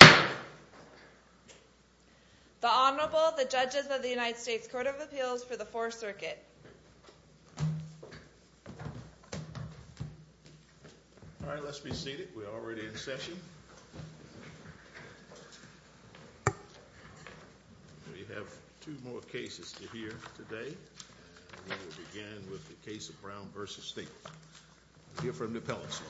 The Honorable, the Judges of the United States Court of Appeals for the Fourth Circuit. All right, let's be seated. We're already in session. We have two more cases to hear today. We will begin with the case of Brown v. Stapleton. We'll hear from the appellant first.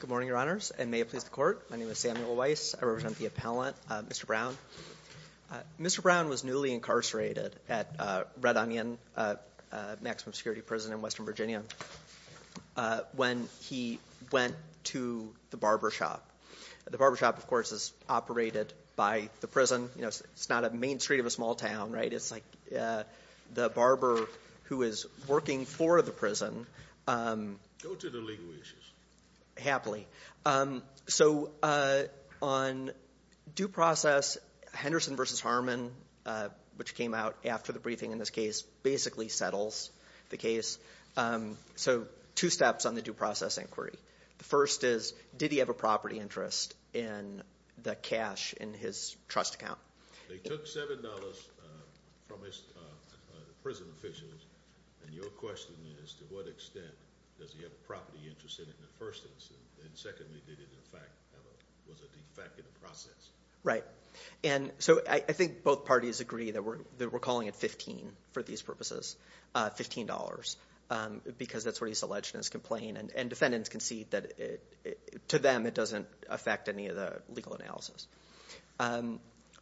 Good morning, Your Honors, and may it please the Court. My name is Samuel Weiss. I represent the appellant, Mr. Brown. Mr. Brown was newly incarcerated at Red Onion Maximum Security Prison in Western Virginia when he went to the barbershop. The barbershop, of course, is operated by the prison. It's not a main street of a small town, right? It's like the barber who is working for the prison. Go to the legal issues. Happily. So on due process, Henderson v. Harmon, which came out after the briefing in this case, basically settles the case. So two steps on the due process inquiry. The first is, did he have a property interest in the cash in his trust account? They took $7 from the prison officials, and your question is, to what extent does he have a property interest in it in the first instance? And secondly, did it, in fact, have a defect in the process? Right. And so I think both parties agree that we're calling it $15 for these purposes, $15, because that's what he's alleged in his complaint. And defendants concede that, to them, it doesn't affect any of the legal analysis.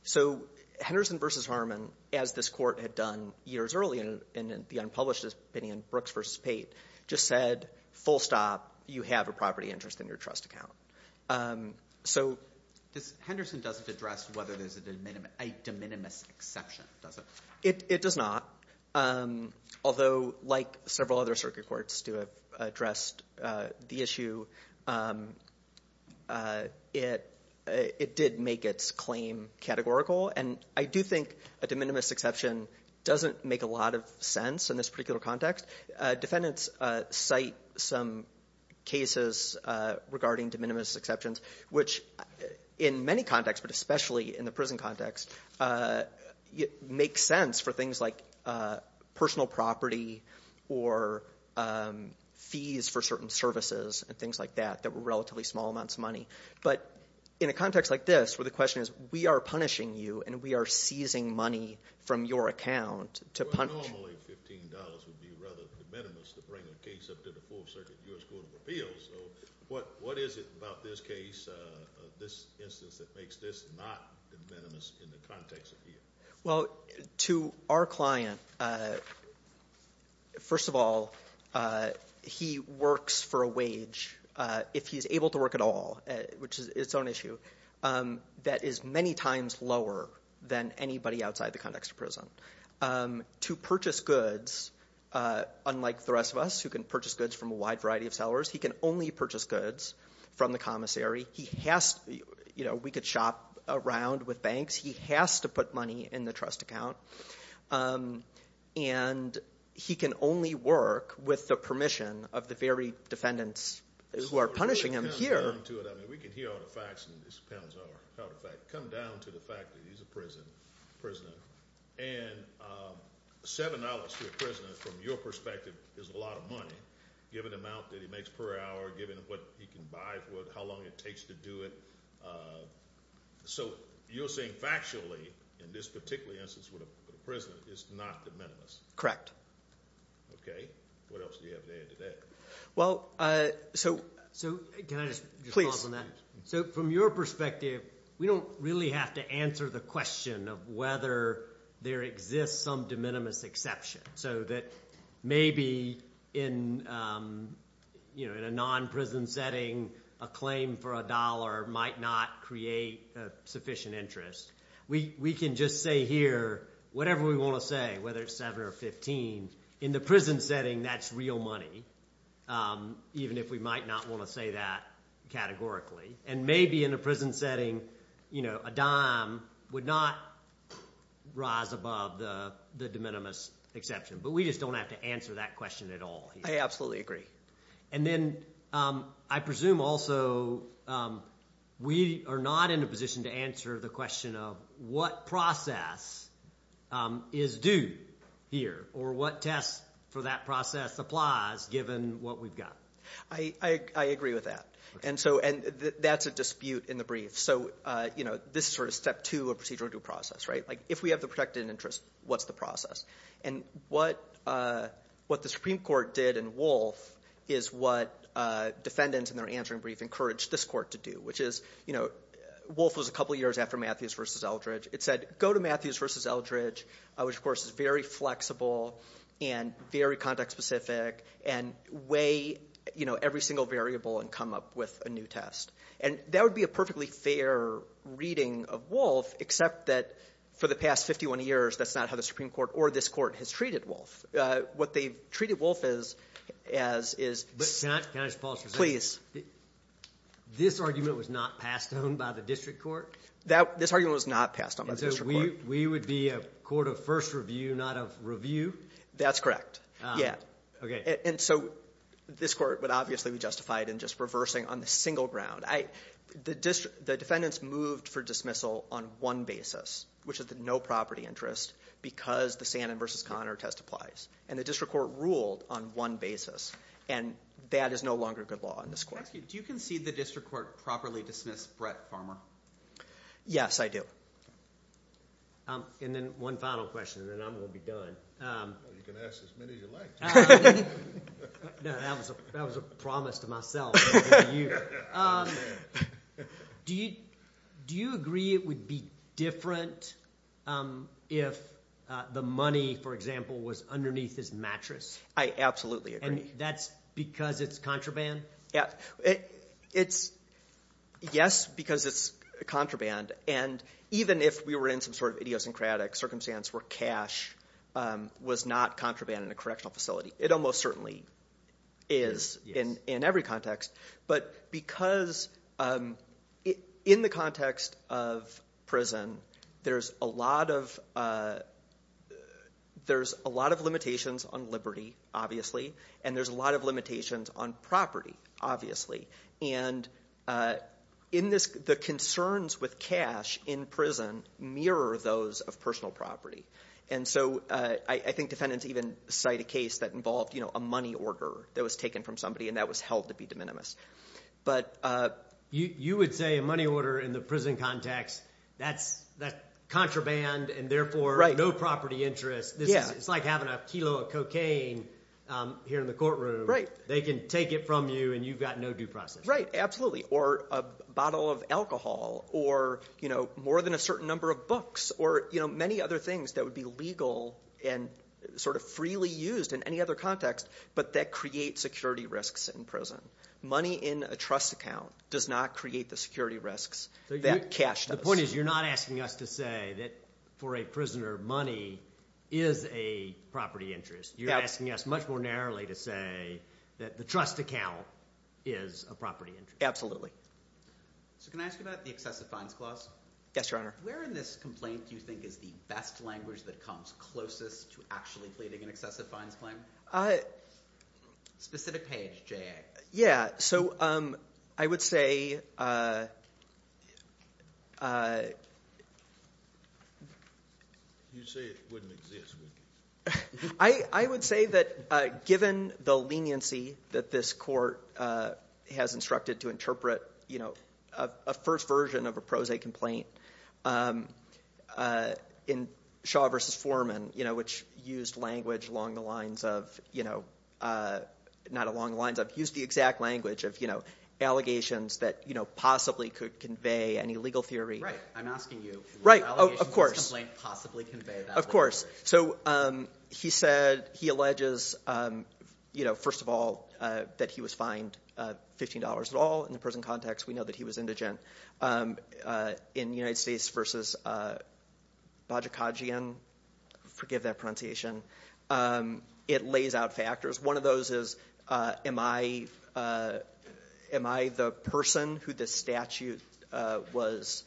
So Henderson v. Harmon, as this court had done years earlier in the unpublished opinion, Brooks v. Pate, just said, full stop. You have a property interest in your trust account. So Henderson doesn't address whether there's a de minimis exception, does it? It does not. Although, like several other circuit courts to have addressed the issue, it did make its claim categorical. And I do think a de minimis exception doesn't make a lot of sense in this particular context. Defendants cite some cases regarding de minimis exceptions, which in many contexts, but especially in the prison context, makes sense for things like personal property or fees for certain services and things like that that were relatively small amounts of money. But in a context like this, where the question is, we are punishing you and we are seizing money from your account to punish you. Normally, $15 would be rather de minimis to bring a case up to the full circuit U.S. Court of Appeals. So what is it about this case, this instance, that makes this not de minimis in the context of here? Well, to our client, first of all, he works for a wage, if he's able to work at all, which is its own issue, that is many times lower than anybody outside the context of prison. To purchase goods, unlike the rest of us who can purchase goods from a wide variety of sellers, he can only purchase goods from the commissary. We could shop around with banks. He has to put money in the trust account. And he can only work with the permission of the very defendants who are punishing him here. We can hear all the facts in this, come down to the fact that he's a prisoner. And $7 to a prisoner, from your perspective, is a lot of money, given the amount that he makes per hour, given what he can buy, how long it takes to do it. So you're saying factually, in this particular instance with a prisoner, it's not de minimis? Correct. Okay. What else do you have to add to that? So can I just respond to that? So from your perspective, we don't really have to answer the question of whether there exists some de minimis exception, so that maybe in a non-prison setting, a claim for a dollar might not create sufficient interest. We can just say here whatever we want to say, whether it's $7 or $15. In the prison setting, that's real money, even if we might not want to say that categorically. And maybe in a prison setting, a dime would not rise above the de minimis exception. But we just don't have to answer that question at all here. I absolutely agree. And then I presume also we are not in a position to answer the question of what process is due here or what test for that process applies, given what we've got. I agree with that. And so that's a dispute in the brief. So this is sort of step two of procedural due process, right? If we have the protected interest, what's the process? And what the Supreme Court did in Wolfe is what defendants in their answering brief encouraged this court to do, which is Wolfe was a couple years after Matthews v. Eldridge. It said go to Matthews v. Eldridge, which, of course, is very flexible and very context-specific, and weigh every single variable and come up with a new test. And that would be a perfectly fair reading of Wolfe, except that for the past 51 years, that's not how the Supreme Court or this court has treated Wolfe. What they've treated Wolfe as is – Can I just pause for a second? Please. This argument was not passed on by the district court? This argument was not passed on by the district court. And so we would be a court of first review, not of review? That's correct, yeah. Okay. And so this court would obviously be justified in just reversing on the single ground. The defendants moved for dismissal on one basis, which is the no property interest, because the Sandin v. Conner testifies. And the district court ruled on one basis, and that is no longer good law in this court. Do you concede the district court properly dismissed Brett Farmer? Yes, I do. And then one final question, and then I'm going to be done. You can ask as many as you like. No, that was a promise to myself, not to you. Do you agree it would be different if the money, for example, was underneath his mattress? I absolutely agree. And that's because it's contraband? Yes, because it's contraband. And even if we were in some sort of idiosyncratic circumstance where cash was not contraband in a correctional facility, it almost certainly is in every context. But because in the context of prison, there's a lot of limitations on liberty, obviously, and there's a lot of limitations on property, obviously. And the concerns with cash in prison mirror those of personal property. And so I think defendants even cite a case that involved a money order that was taken from somebody, and that was held to be de minimis. But you would say a money order in the prison context, that's contraband and therefore no property interest. It's like having a kilo of cocaine here in the courtroom. They can take it from you, and you've got no due process. Right, absolutely, or a bottle of alcohol, or more than a certain number of books, or many other things that would be legal and sort of freely used in any other context, but that create security risks in prison. Money in a trust account does not create the security risks that cash does. The point is you're not asking us to say that for a prisoner, money is a property interest. You're asking us much more narrowly to say that the trust account is a property interest. Absolutely. So can I ask you about the excessive fines clause? Yes, Your Honor. Where in this complaint do you think is the best language that comes closest to actually pleading an excessive fines claim? Specific page, J.A. Yeah, so I would say. You say it wouldn't exist. I would say that given the leniency that this court has instructed to interpret, a first version of a pro se complaint in Shaw v. Foreman, which used language along the lines of, not along the lines of, used the exact language of allegations that possibly could convey an illegal theory. Right, I'm asking you. Right, of course. Allegations in this complaint possibly convey that. Of course. So he said, he alleges, you know, first of all, that he was fined $15 at all. In the prison context, we know that he was indigent. In United States v. Bajikajian, forgive that pronunciation, it lays out factors. One of those is, am I the person who this statute was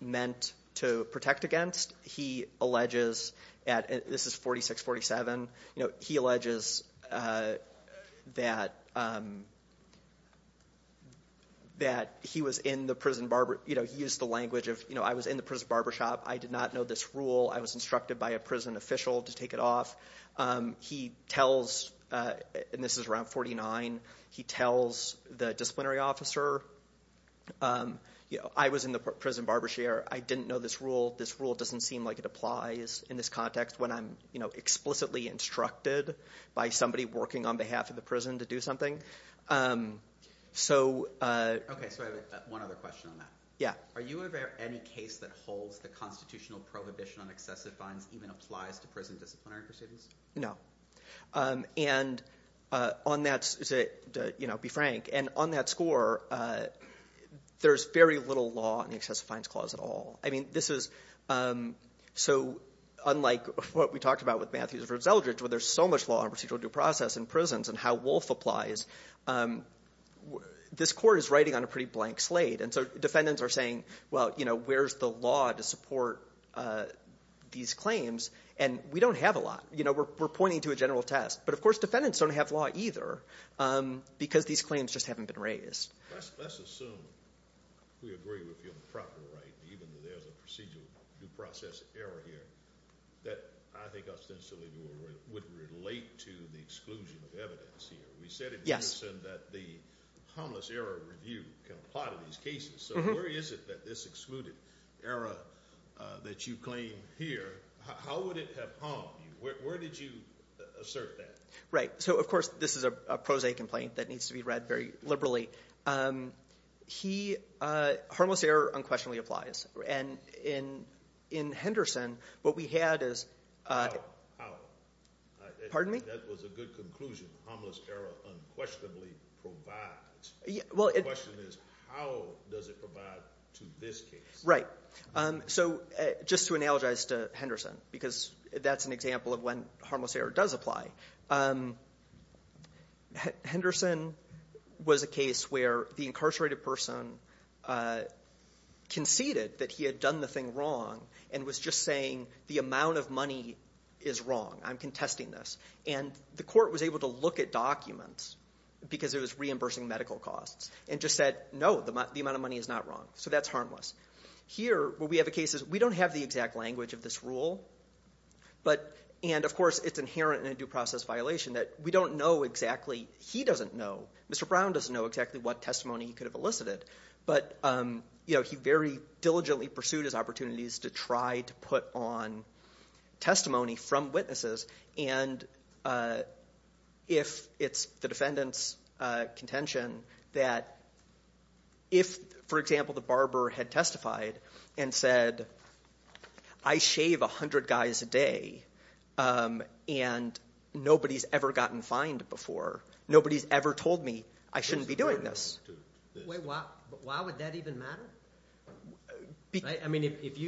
meant to protect against? He alleges at, this is 46-47, you know, he alleges that he was in the prison barber, you know, he used the language of, you know, I was in the prison barber shop. I did not know this rule. I was instructed by a prison official to take it off. He tells, and this is around 49, he tells the disciplinary officer, you know, I was in the prison barber chair. I didn't know this rule. This rule doesn't seem like it applies in this context when I'm, you know, explicitly instructed by somebody working on behalf of the prison to do something. So. Okay, so I have one other question on that. Yeah. Are you aware of any case that holds the constitutional prohibition on excessive fines even applies to prison disciplinary proceedings? No. And on that, to, you know, be frank, and on that score, there's very little law on the excessive fines clause at all. I mean, this is so unlike what we talked about with Matthews versus Eldridge where there's so much law on procedural due process in prisons and how Wolf applies. This court is writing on a pretty blank slate. And so defendants are saying, well, you know, where's the law to support these claims? And we don't have a lot. You know, we're pointing to a general test. But, of course, defendants don't have law either because these claims just haven't been raised. Let's assume we agree with you on the proper right, even though there's a procedural due process error here, that I think ostensibly would relate to the exclusion of evidence here. We said it in unison that the harmless error review can apply to these cases. So where is it that this excluded error that you claim here, how would it have harmed you? Where did you assert that? Right. So, of course, this is a pro se complaint that needs to be read very liberally. Harmless error unquestionably applies. And in Henderson, what we had is ‑‑ How? Pardon me? That was a good conclusion, harmless error unquestionably provides. The question is how does it provide to this case? Right. So just to analogize to Henderson, because that's an example of when harmless error does apply, Henderson was a case where the incarcerated person conceded that he had done the thing wrong and was just saying the amount of money is wrong, I'm contesting this. And the court was able to look at documents because it was reimbursing medical costs and just said, no, the amount of money is not wrong, so that's harmless. Here, where we have a case, we don't have the exact language of this rule, and, of course, it's inherent in a due process violation that we don't know exactly, he doesn't know, Mr. Brown doesn't know exactly what testimony he could have elicited, but he very diligently pursued his opportunities to try to put on testimony from witnesses, and if it's the defendant's contention that if, for example, the barber had testified and said I shave 100 guys a day and nobody's ever gotten fined before, nobody's ever told me I shouldn't be doing this. Wait, why would that even matter? I mean, if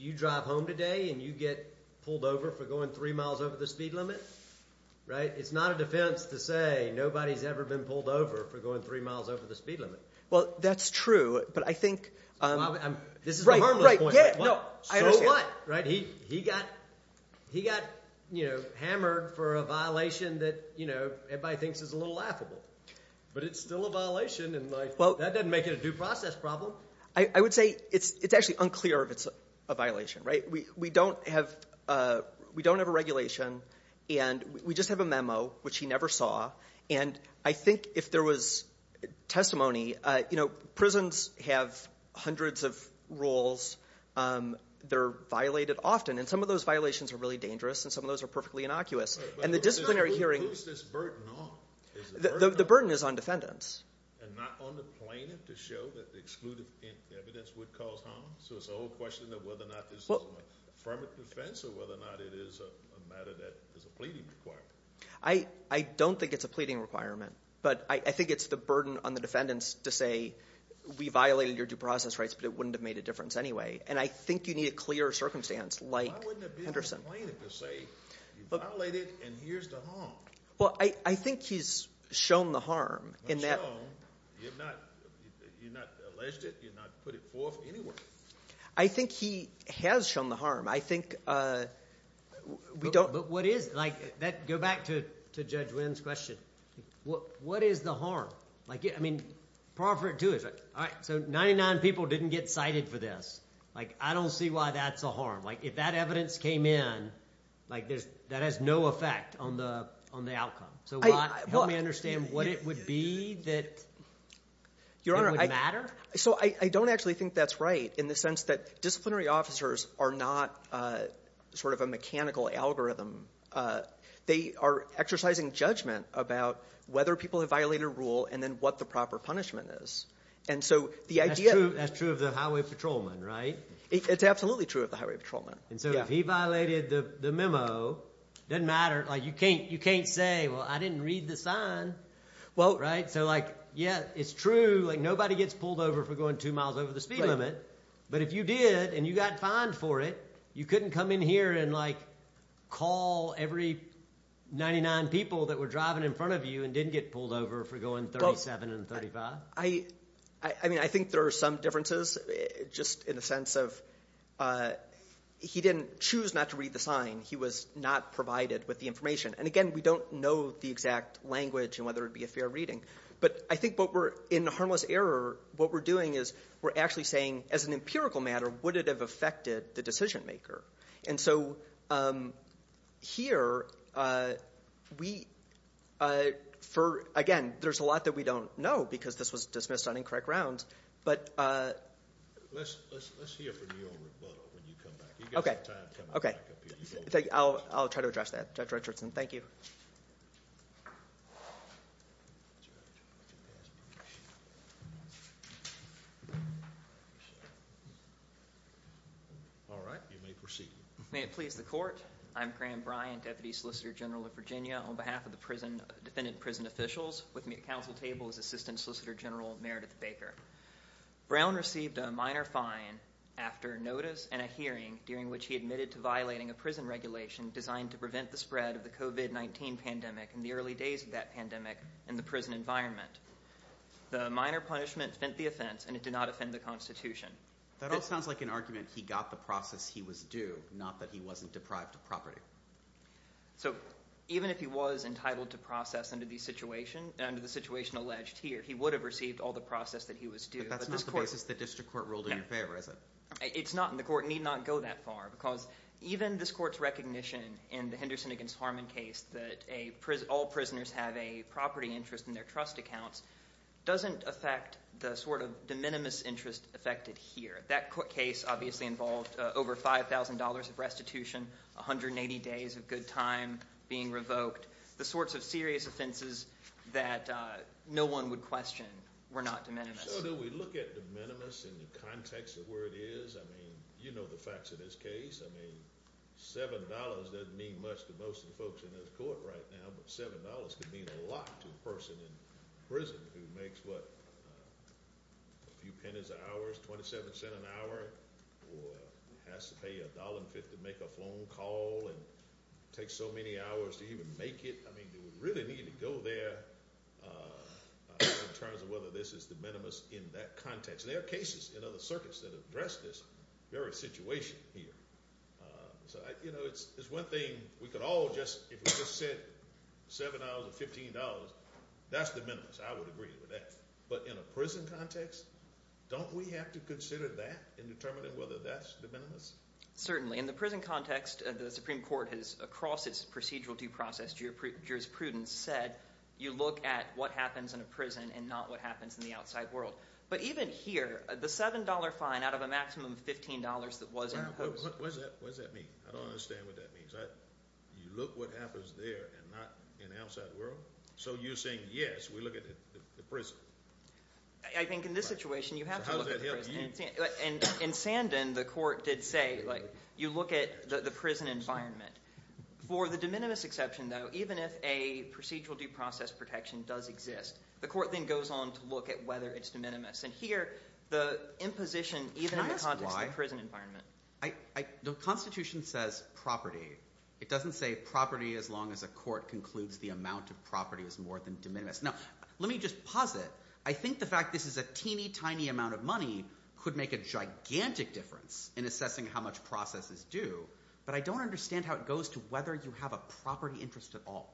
you drive home today and you get pulled over for going three miles over the speed limit, it's not a defense to say nobody's ever been pulled over for going three miles over the speed limit. Well, that's true, but I think— This is a harmless point. So what? He got hammered for a violation that everybody thinks is a little laughable, but it's still a violation, and that doesn't make it a due process problem. I would say it's actually unclear if it's a violation. We don't have a regulation, and we just have a memo, which he never saw, and I think if there was testimony, you know, prisons have hundreds of rules. They're violated often, and some of those violations are really dangerous, and some of those are perfectly innocuous, and the disciplinary hearing— Who is this burden on? The burden is on defendants. And not on the plaintiff to show that the exclusive evidence would cause harm? So it's a whole question of whether or not this is an affirmative defense or whether or not it is a matter that is a pleading requirement. I don't think it's a pleading requirement, but I think it's the burden on the defendants to say, we violated your due process rights, but it wouldn't have made a difference anyway, and I think you need a clear circumstance like Henderson. You violated, and here's the harm. Well, I think he's shown the harm. He's shown. You're not alleged it. You're not put it forth anywhere. I think he has shown the harm. I think we don't— But what is it? Go back to Judge Wynn's question. What is the harm? I mean, par for intuition. All right, so 99 people didn't get cited for this. I don't see why that's a harm. If that evidence came in, that has no effect on the outcome. So help me understand what it would be that would matter? Your Honor, so I don't actually think that's right in the sense that disciplinary officers are not sort of a mechanical algorithm. They are exercising judgment about whether people have violated a rule and then what the proper punishment is. And so the idea— That's true of the highway patrolman, right? It's absolutely true of the highway patrolman. And so if he violated the memo, it doesn't matter. You can't say, well, I didn't read the sign, right? So yeah, it's true. Nobody gets pulled over for going two miles over the speed limit, but if you did and you got fined for it, you couldn't come in here and call every 99 people that were driving in front of you and didn't get pulled over for going 37 and 35? I mean, I think there are some differences just in the sense of he didn't choose not to read the sign. He was not provided with the information. And again, we don't know the exact language and whether it would be a fair reading. But I think in harmless error, what we're doing is we're actually saying, as an empirical matter, would it have affected the decision maker? And so here, again, there's a lot that we don't know because this was dismissed on incorrect rounds. Let's hear from you on rebuttal when you come back. You've got some time coming back up here. I'll try to address that. Judge Richardson, thank you. All right, you may proceed. May it please the Court. I'm Graham Bryant, Deputy Solicitor General of Virginia. On behalf of the defendant and prison officials, with me at counsel table is Assistant Solicitor General Meredith Baker. Brown received a minor fine after notice and a hearing during which he admitted to violating a prison regulation designed to prevent the spread of the COVID-19 pandemic in the early days of that pandemic in the prison environment. The minor punishment fent the offense, and it did not offend the Constitution. That all sounds like an argument he got the process he was due, not that he wasn't deprived of property. So even if he was entitled to process under the situation alleged here, he would have received all the process that he was due. But that's not the basis the district court ruled in your favor, is it? It's not, and the court need not go that far because even this court's recognition in the Henderson against Harmon case that all prisoners have a property interest in their trust accounts doesn't affect the sort of de minimis interest affected here. That case obviously involved over $5,000 of restitution, 180 days of good time being revoked, the sorts of serious offenses that no one would question were not de minimis. So do we look at de minimis in the context of where it is? I mean, you know the facts of this case. I mean, $7 doesn't mean much to most of the folks in this court right now, but $7 could mean a lot to a person in prison who makes, what, a few pennies an hour, $0.27 an hour, or has to pay $1.50 to make a phone call and takes so many hours to even make it. I mean, they would really need to go there in terms of whether this is de minimis in that context. There are cases in other circuits that have addressed this very situation here. So, you know, it's one thing we could all just, if we just said $7 or $15, that's de minimis. I would agree with that. But in a prison context, don't we have to consider that in determining whether that's de minimis? Certainly. In the prison context, the Supreme Court has, across its procedural due process jurisprudence, said you look at what happens in a prison and not what happens in the outside world. But even here, the $7 fine out of a maximum of $15 that was imposed— What does that mean? I don't understand what that means. You look what happens there and not in the outside world? So you're saying, yes, we look at the prison. I think in this situation, you have to look at the prison. In Sandin, the court did say you look at the prison environment. For the de minimis exception, though, even if a procedural due process protection does exist, the court then goes on to look at whether it's de minimis. And here, the imposition, even in the context of the prison environment— The Constitution says property. It doesn't say property as long as a court concludes the amount of property is more than de minimis. Now, let me just posit. I think the fact this is a teeny tiny amount of money could make a gigantic difference in assessing how much process is due, but I don't understand how it goes to whether you have a property interest at all.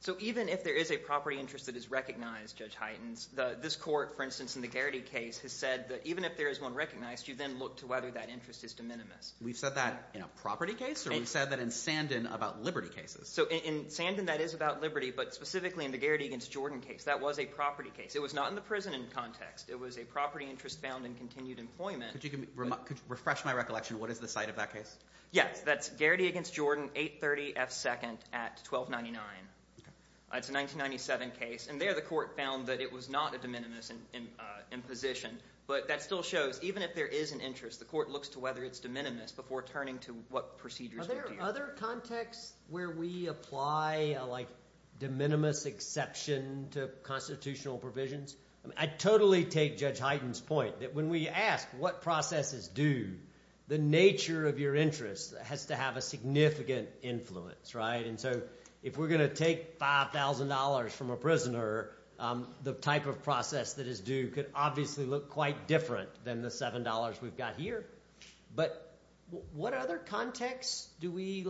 So even if there is a property interest that is recognized, Judge Heitens, this court, for instance, in the Garrity case, has said that even if there is one recognized, you then look to whether that interest is de minimis. We've said that in a property case? Or we've said that in Sandin about liberty cases? So in Sandin, that is about liberty, but specifically in the Garrity v. Jordan case, that was a property case. It was not in the prison context. It was a property interest found in continued employment. Could you refresh my recollection? What is the site of that case? Yes, that's Garrity v. Jordan, 830 F. 2nd at 1299. It's a 1997 case. And there, the court found that it was not a de minimis imposition. But that still shows, even if there is an interest, the court looks to whether it's de minimis before turning to what procedures would be appropriate. Are there other contexts where we apply a de minimis exception to constitutional provisions? I totally take Judge Heitens' point, that when we ask what process is due, the nature of your interest has to have a significant influence. And so if we're going to take $5,000 from a prisoner, the type of process that is due could obviously look quite different than the $7 we've got here. But what other contexts do we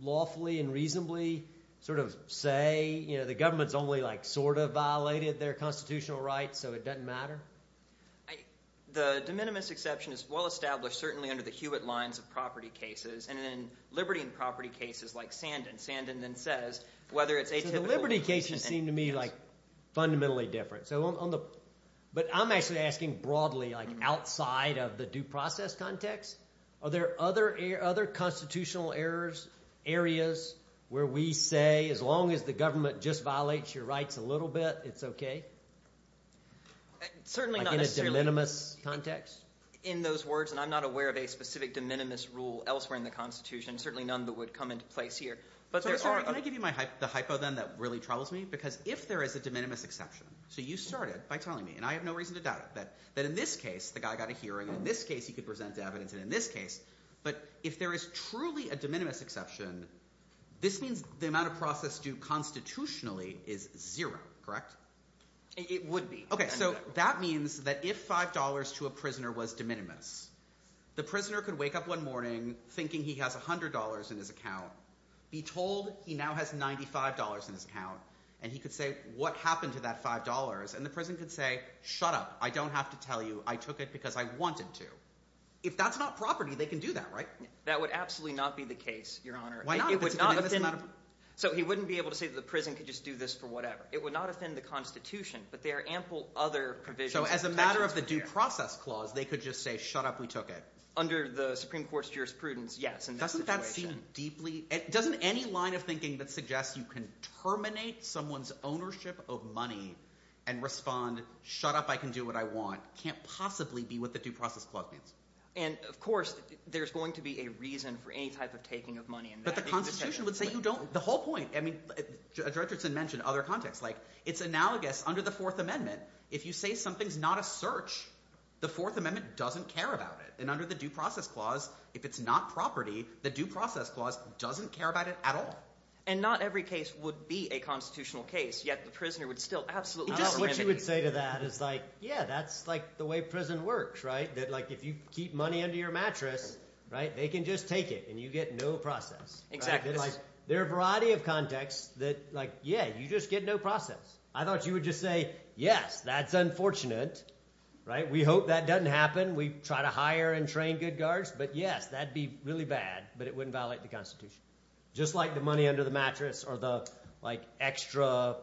lawfully and reasonably sort of say, the government's only sort of violated their constitutional rights, so it doesn't matter? The de minimis exception is well established, certainly under the Hewitt lines of property cases, and then liberty and property cases like Sandin. Sandin then says, whether it's atypical… So the liberty cases seem to me like fundamentally different. But I'm actually asking broadly, like outside of the due process context. Are there other constitutional areas where we say, as long as the government just violates your rights a little bit, it's okay? Certainly not necessarily… Like in a de minimis context? In those words, and I'm not aware of a specific de minimis rule elsewhere in the Constitution, certainly none that would come into place here. But there are… Can I give you the hypo then that really troubles me? Because if there is a de minimis exception… So you started by telling me, and I have no reason to doubt it, that in this case the guy got a hearing, in this case he could present evidence, and in this case… But if there is truly a de minimis exception, this means the amount of process due constitutionally is zero, correct? It would be. Okay, so that means that if $5 to a prisoner was de minimis, the prisoner could wake up one morning thinking he has $100 in his account, be told he now has $95 in his account, and he could say, what happened to that $5? And the prison could say, shut up. I don't have to tell you. I took it because I wanted to. If that's not property, they can do that, right? That would absolutely not be the case, Your Honor. Why not? So he wouldn't be able to say that the prison could just do this for whatever. It would not offend the Constitution, but there are ample other provisions… So as a matter of the due process clause, they could just say, shut up, we took it. Under the Supreme Court's jurisprudence, yes. Doesn't that seem deeply – doesn't any line of thinking that suggests you can terminate someone's ownership of money and respond, shut up, I can do what I want, can't possibly be what the due process clause means. And, of course, there's going to be a reason for any type of taking of money. But the Constitution would say you don't. The whole point – Judge Richardson mentioned other contexts. It's analogous under the Fourth Amendment. If you say something's not a search, the Fourth Amendment doesn't care about it. And under the due process clause, if it's not property, the due process clause doesn't care about it at all. And not every case would be a constitutional case, yet the prisoner would still absolutely… I don't know what you would say to that. It's like, yeah, that's the way prison works, right? That if you keep money under your mattress, they can just take it, and you get no process. Exactly. There are a variety of contexts that, yeah, you just get no process. I thought you would just say, yes, that's unfortunate. We hope that doesn't happen. We try to hire and train good guards. But, yes, that would be really bad, but it wouldn't violate the Constitution. Just like the money under the mattress or the extra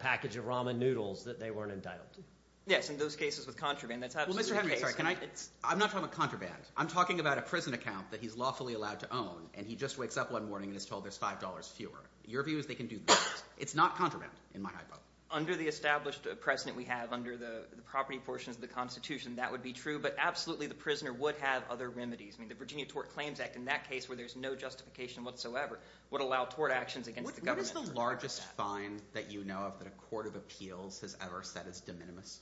package of ramen noodles that they weren't entitled to. Yes, in those cases with contraband, that's absolutely the case. Well, Mr. Henry, I'm sorry. Can I – I'm not talking about contraband. I'm talking about a prison account that he's lawfully allowed to own, and he just wakes up one morning and is told there's $5 fewer. Your view is they can do that. It's not contraband in my hypo. Under the established precedent we have under the property portions of the Constitution, that would be true. But absolutely the prisoner would have other remedies. I mean the Virginia Tort Claims Act, in that case where there's no justification whatsoever, would allow tort actions against the government. What is the largest fine that you know of that a court of appeals has ever set as de minimis?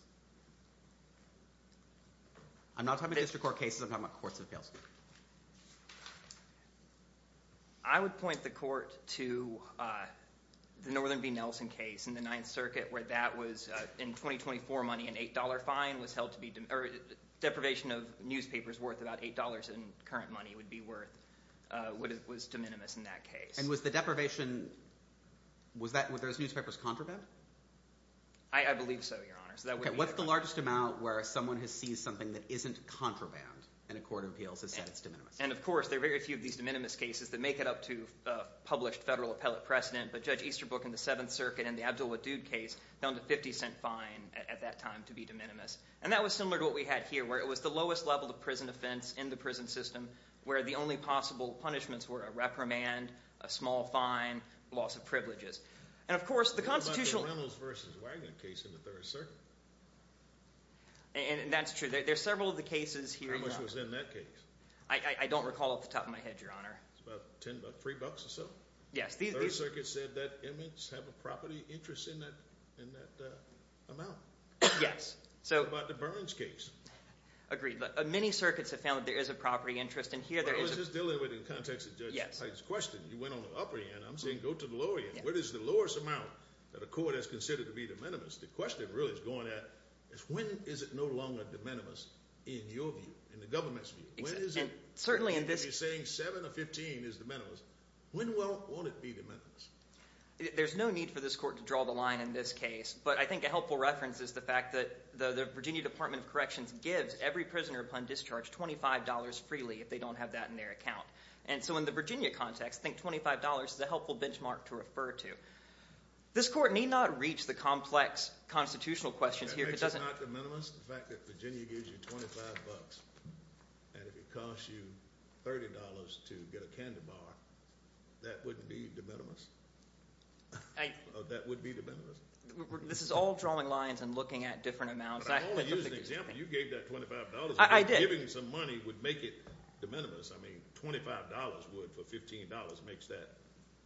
I'm not talking about district court cases. I'm talking about courts of appeals. I would point the court to the Northern v. Nelson case in the Ninth Circuit where that was, in 2024 money, an $8 fine was held to be – deprivation of newspapers worth about $8 in current money would be worth – was de minimis in that case. And was the deprivation – was that – were those newspapers contraband? I believe so, Your Honor. Okay. What's the largest amount where someone has seized something that isn't contraband and a court of appeals has said it's de minimis? And, of course, there are very few of these de minimis cases that make it up to a published federal appellate precedent. But Judge Easterbrook in the Seventh Circuit in the Abdul Wadood case found a $0.50 fine at that time to be de minimis. And that was similar to what we had here where it was the lowest level of prison offense in the prison system where the only possible punishments were a reprimand, a small fine, loss of privileges. And, of course, the Constitutional – What about the Reynolds v. Wagner case in the Third Circuit? And that's true. There are several of the cases here – How much was in that case? I don't recall off the top of my head, Your Honor. About $3 or so. Yes. The Third Circuit said that inmates have a property interest in that amount. Yes. What about the Burns case? Agreed. Many circuits have found that there is a property interest. Well, I was just dealing with it in the context of Judge Hyde's question. You went on the upper end. I'm saying go to the lower end. What is the lowest amount that a court has considered to be de minimis? The question really is going at is when is it no longer de minimis in your view, in the government's view? When is it – Certainly in this – You're saying 7 or 15 is de minimis. When will – won't it be de minimis? There's no need for this court to draw the line in this case. But I think a helpful reference is the fact that the Virginia Department of Corrections gives every prisoner upon discharge $25 freely if they don't have that in their account. And so in the Virginia context, I think $25 is a helpful benchmark to refer to. This court need not reach the complex constitutional questions here if it doesn't – That makes it not de minimis, the fact that Virginia gives you $25. And if it costs you $30 to get a candy bar, that wouldn't be de minimis? That would be de minimis? This is all drawing lines and looking at different amounts. I'm only using an example. You gave that $25. I did. Giving some money would make it de minimis. I mean $25 would for $15 makes that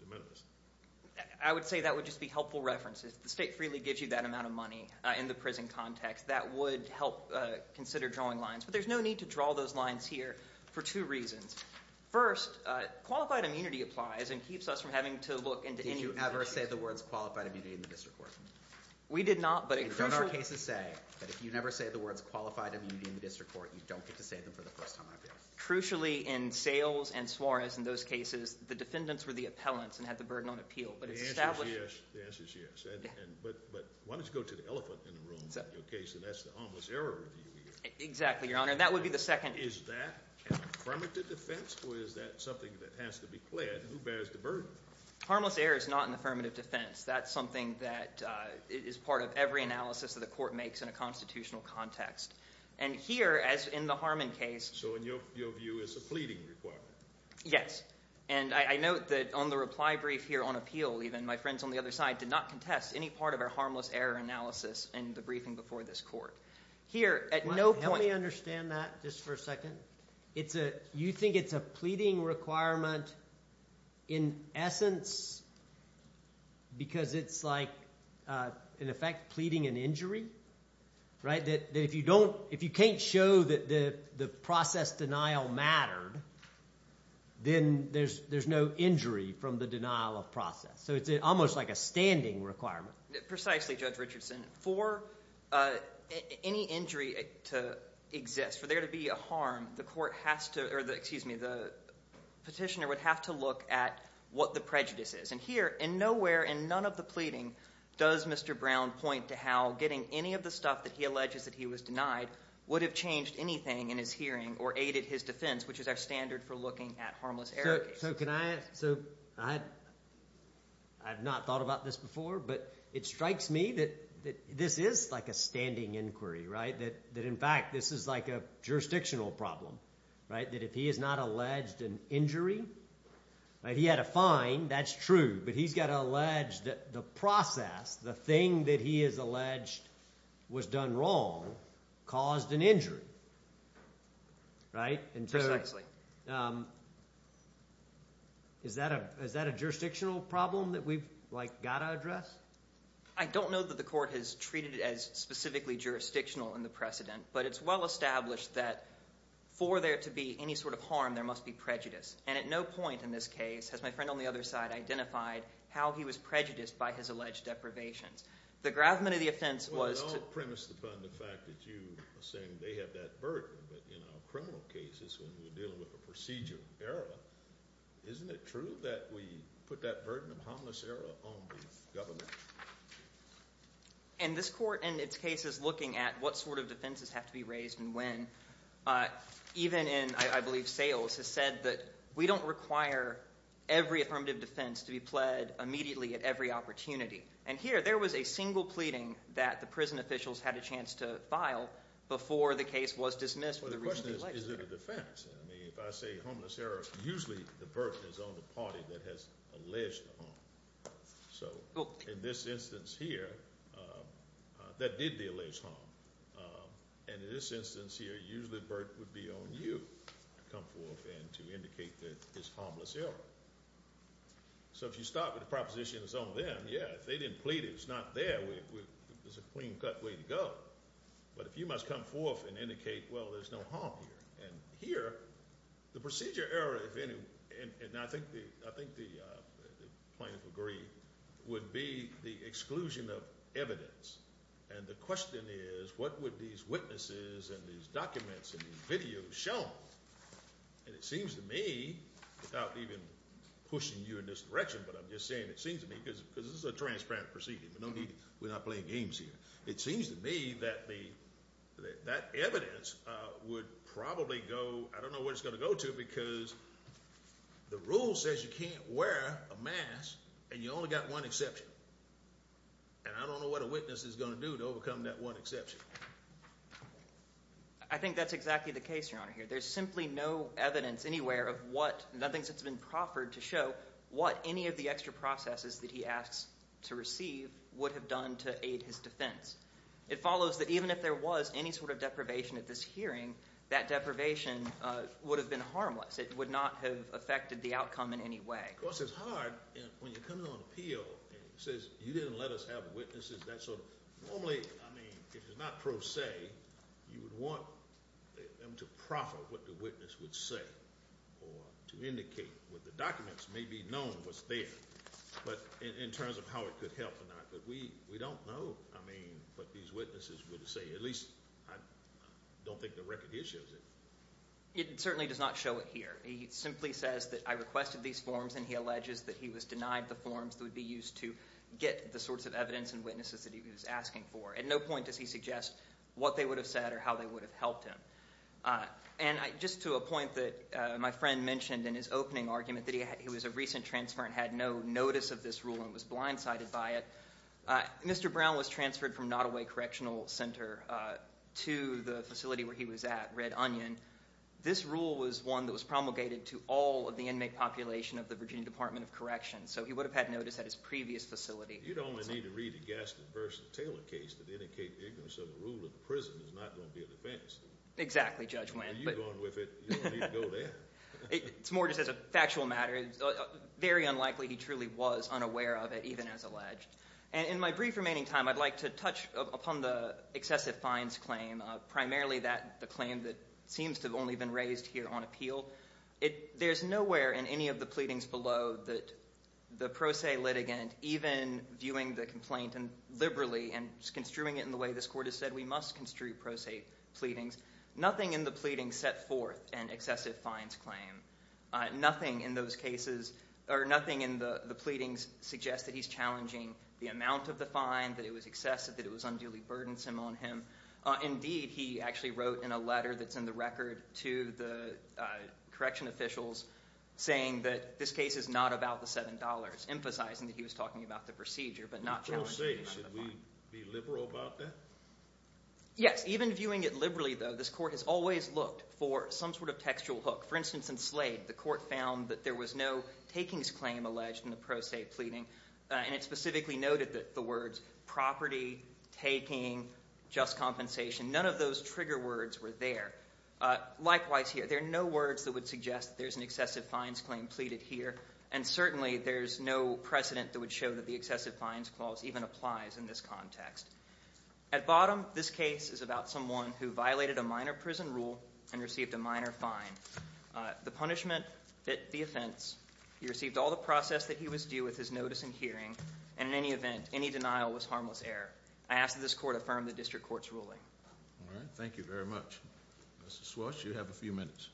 de minimis. I would say that would just be helpful reference. If the state freely gives you that amount of money in the prison context, that would help consider drawing lines. But there's no need to draw those lines here for two reasons. First, qualified immunity applies and keeps us from having to look into any – Did you ever say the words qualified immunity in the district court? We did not, but – Don't our cases say that if you never say the words qualified immunity in the district court, you don't get to say them for the first time on appeal? Crucially, in Sayles and Suarez, in those cases, the defendants were the appellants and had the burden on appeal. The answer is yes. But why don't you go to the elephant in the room in your case, and that's the harmless error review here. Exactly, Your Honor. That would be the second – Is that an affirmative defense or is that something that has to be pled? Who bears the burden? Harmless error is not an affirmative defense. That's something that is part of every analysis that the court makes in a constitutional context. And here, as in the Harmon case – So in your view, it's a pleading requirement. Yes. And I note that on the reply brief here on appeal even, my friends on the other side did not contest any part of our harmless error analysis in the briefing before this court. Here, at no point – Let me understand that just for a second. You think it's a pleading requirement in essence because it's like, in effect, pleading an injury? That if you can't show that the process denial mattered, then there's no injury from the denial of process. So it's almost like a standing requirement. Precisely, Judge Richardson. For any injury to exist, for there to be a harm, the court has to – or excuse me, the petitioner would have to look at what the prejudice is. And here, in nowhere in none of the pleading does Mr. Brown point to how getting any of the stuff that he alleges that he was denied would have changed anything in his hearing or aided his defense, which is our standard for looking at harmless error cases. So can I – so I had not thought about this before, but it strikes me that this is like a standing inquiry, that in fact this is like a jurisdictional problem. That if he has not alleged an injury – he had a fine, that's true, but he's got to allege that the process, the thing that he has alleged was done wrong, caused an injury. Precisely. Is that a jurisdictional problem that we've got to address? I don't know that the court has treated it as specifically jurisdictional in the precedent, but it's well established that for there to be any sort of harm, there must be prejudice. And at no point in this case has my friend on the other side identified how he was prejudiced by his alleged deprivations. The gravamen of the offense was to – I miss the fact that you are saying they have that burden, but in our criminal cases when we're dealing with a procedural error, isn't it true that we put that burden of harmless error on the government? And this court in its case is looking at what sort of defenses have to be raised and when. Even in, I believe, sales, has said that we don't require every affirmative defense to be pled immediately at every opportunity. And here, there was a single pleading that the prison officials had a chance to file before the case was dismissed. Well, the question is, is it a defense? I mean if I say harmless error, usually the burden is on the party that has alleged the harm. So in this instance here, that did the alleged harm. And in this instance here, usually the burden would be on you to come forth and to indicate that it's harmless error. So if you start with a proposition that's on them, yeah, if they didn't plead it, it's not there. There's a clean-cut way to go. But if you must come forth and indicate, well, there's no harm here. And here, the procedure error, if any, and I think the plaintiff agreed, would be the exclusion of evidence. And the question is, what would these witnesses and these documents and these videos show? And it seems to me, without even pushing you in this direction, but I'm just saying it seems to me because this is a transparent procedure. There's no need – we're not playing games here. It seems to me that that evidence would probably go – I don't know where it's going to go to because the rule says you can't wear a mask, and you only got one exception. And I don't know what a witness is going to do to overcome that one exception. I think that's exactly the case, Your Honor, here. There's simply no evidence anywhere of what – nothing that's been proffered to show what any of the extra processes that he asks to receive would have done to aid his defense. It follows that even if there was any sort of deprivation at this hearing, that deprivation would have been harmless. It would not have affected the outcome in any way. Of course, it's hard when you're coming on appeal and it says you didn't let us have witnesses. That's sort of – normally, I mean, if it's not pro se, you would want them to proffer what the witness would say or to indicate what the documents may be known was there. But in terms of how it could help or not, we don't know, I mean, what these witnesses would say. At least, I don't think the record issues it. It certainly does not show it here. It simply says that I requested these forms, and he alleges that he was denied the forms that would be used to get the sorts of evidence and witnesses that he was asking for. At no point does he suggest what they would have said or how they would have helped him. And just to a point that my friend mentioned in his opening argument, that he was a recent transfer and had no notice of this rule and was blindsided by it. Mr. Brown was transferred from Nottoway Correctional Center to the facility where he was at, Red Onion. This rule was one that was promulgated to all of the inmate population of the Virginia Department of Corrections, so he would have had notice at his previous facility. You'd only need to read the Gaston v. Taylor case to indicate the ignorance of the rule of the prison is not going to be an offense. Exactly, Judge Wendt. You're going with it. You don't need to go there. It's more just as a factual matter. It's very unlikely he truly was unaware of it, even as alleged. In my brief remaining time, I'd like to touch upon the excessive fines claim, primarily the claim that seems to have only been raised here on appeal. There's nowhere in any of the pleadings below that the pro se litigant, even viewing the complaint liberally and construing it in the way this court has said we must construe pro se pleadings, nothing in the pleadings set forth an excessive fines claim. Nothing in those cases or nothing in the pleadings suggests that he's challenging the amount of the fine, that it was excessive, that it was unduly burdensome on him. Indeed, he actually wrote in a letter that's in the record to the correction officials saying that this case is not about the $7, emphasizing that he was talking about the procedure but not challenging the amount of the fine. Should we be liberal about that? Yes. Even viewing it liberally, though, this court has always looked for some sort of textual hook. For instance, in Slade, the court found that there was no takings claim alleged in the pro se pleading, and it specifically noted the words property, taking, just compensation. None of those trigger words were there. Likewise here, there are no words that would suggest there's an excessive fines claim pleaded here, and certainly there's no precedent that would show that the excessive fines clause even applies in this context. At bottom, this case is about someone who violated a minor prison rule and received a minor fine. The punishment fit the offense. He received all the process that he was due with his notice and hearing, and in any event, any denial was harmless error. I ask that this court affirm the district court's ruling. All right. Thank you very much. Mr. Swartz, you have a few minutes.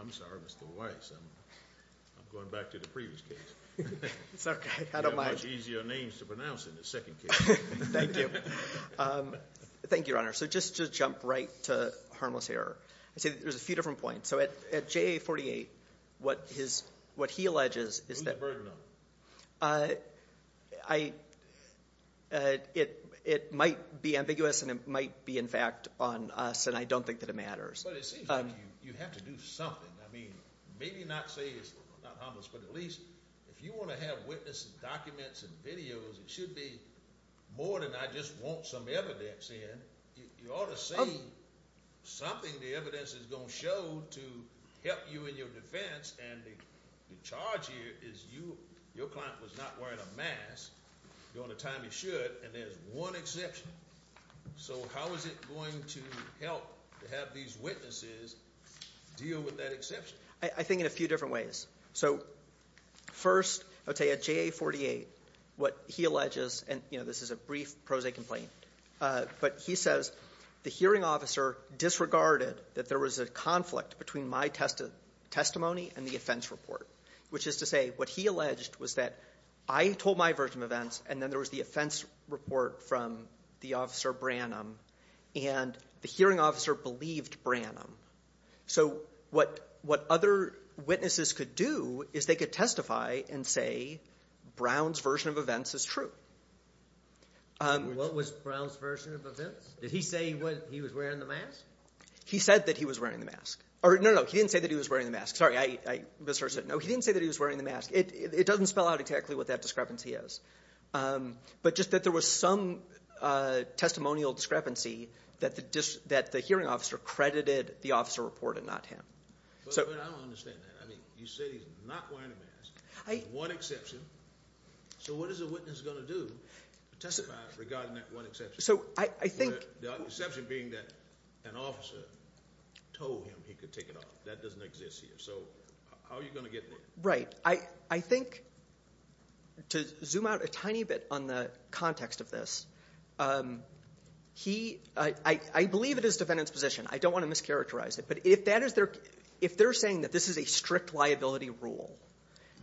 I'm sorry, Mr. Weiss. I'm going back to the previous case. It's okay. I don't mind. You have much easier names to pronounce in the second case. Thank you. Thank you, Your Honor. So just to jump right to harmless error, I'd say there's a few different points. So at JA-48, what he alleges is that— Who's the burden on it? It might be ambiguous, and it might be, in fact, on us, and I don't think that it matters. But it seems like you have to do something. I mean, maybe not say it's not harmless, but at least if you want to have witnesses, documents, and videos, it should be more than I just want some evidence in. You ought to see something the evidence is going to show to help you in your defense, and the charge here is your client was not wearing a mask during the time he should, and there's one exception. So how is it going to help to have these witnesses deal with that exception? I think in a few different ways. So first, I would say at JA-48, what he alleges, and this is a brief prose complaint, but he says the hearing officer disregarded that there was a conflict between my testimony and the offense report, which is to say what he alleged was that I told my version of events, and then there was the offense report from the officer Branham, and the hearing officer believed Branham. So what other witnesses could do is they could testify and say Brown's version of events is true. What was Brown's version of events? Did he say he was wearing the mask? He said that he was wearing the mask. No, no, no, he didn't say that he was wearing the mask. Sorry, I misheard. No, he didn't say that he was wearing the mask. It doesn't spell out exactly what that discrepancy is, but just that there was some testimonial discrepancy that the hearing officer credited the officer report and not him. But I don't understand that. I mean you said he's not wearing the mask. There's one exception. So what is a witness going to do to testify regarding that one exception? The exception being that an officer told him he could take it off. That doesn't exist here. So how are you going to get there? Right. I think to zoom out a tiny bit on the context of this, I believe it is defendant's position. I don't want to mischaracterize it, but if they're saying that this is a strict liability rule,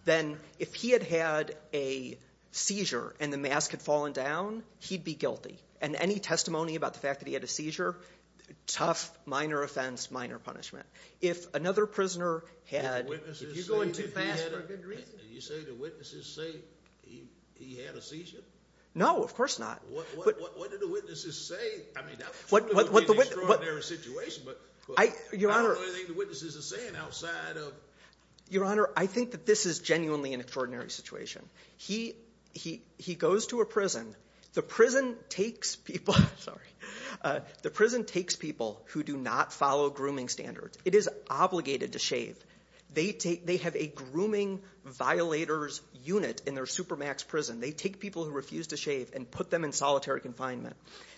then if he had had a seizure and the mask had fallen down, he'd be guilty. And any testimony about the fact that he had a seizure, tough, minor offense, minor punishment. If another prisoner had. If you're going too fast for a good reason. Did you say the witnesses say he had a seizure? No, of course not. What did the witnesses say? I mean that would be an extraordinary situation, but not the only thing the witnesses are saying outside of. Your Honor, I think that this is genuinely an extraordinary situation. He goes to a prison. The prison takes people who do not follow grooming standards. It is obligated to shave. They have a grooming violators unit in their supermax prison. They take people who refuse to shave and put them in solitary confinement.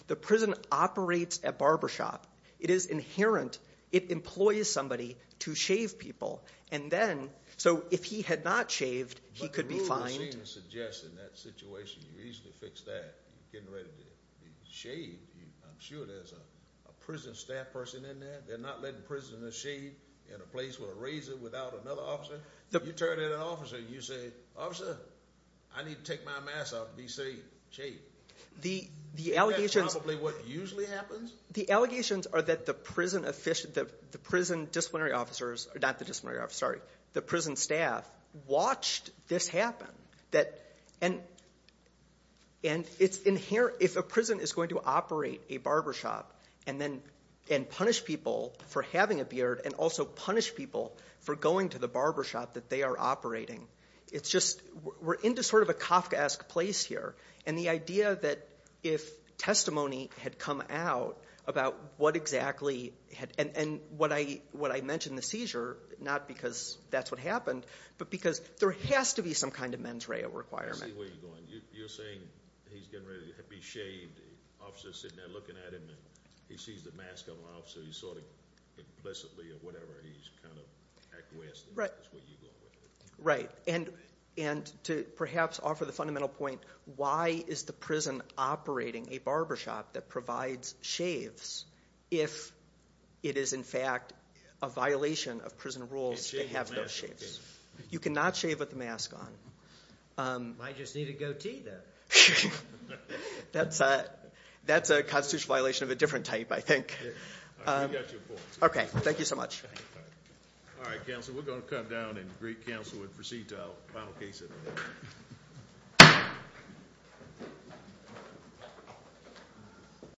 The prison operates a barbershop. It is inherent. It employs somebody to shave people. And then, so if he had not shaved, he could be fined. You seem to suggest in that situation you easily fix that. You're getting ready to be shaved. I'm sure there's a prison staff person in there. They're not letting prisoners shave in a place with a razor without another officer. You turn in an officer and you say, Officer, I need to take my mask off and be shaved. Is that probably what usually happens? The allegations are that the prison disciplinary officers. Not the disciplinary officers, sorry. The prison staff watched this happen. And it's inherent. If a prison is going to operate a barbershop and punish people for having a beard and also punish people for going to the barbershop that they are operating, we're into sort of a Kafkaesque place here. And the idea that if testimony had come out about what exactly, and what I mentioned, the seizure, not because that's what happened, but because there has to be some kind of mens rea requirement. I see where you're going. You're saying he's getting ready to be shaved. The officer's sitting there looking at him and he sees the mask on the officer. He's sort of implicitly or whatever, he's kind of Kafkaesque. That's what you're going with. Right. And to perhaps offer the fundamental point, why is the prison operating a barbershop that provides shaves if it is in fact a violation of prison rules to have those shaves? You cannot shave with a mask on. Might just need a goatee, though. That's a constitutional violation of a different type, I think. We got you a point. Okay, thank you so much. All right, counsel, we're going to come down, and great counsel would proceed to our final case of the day.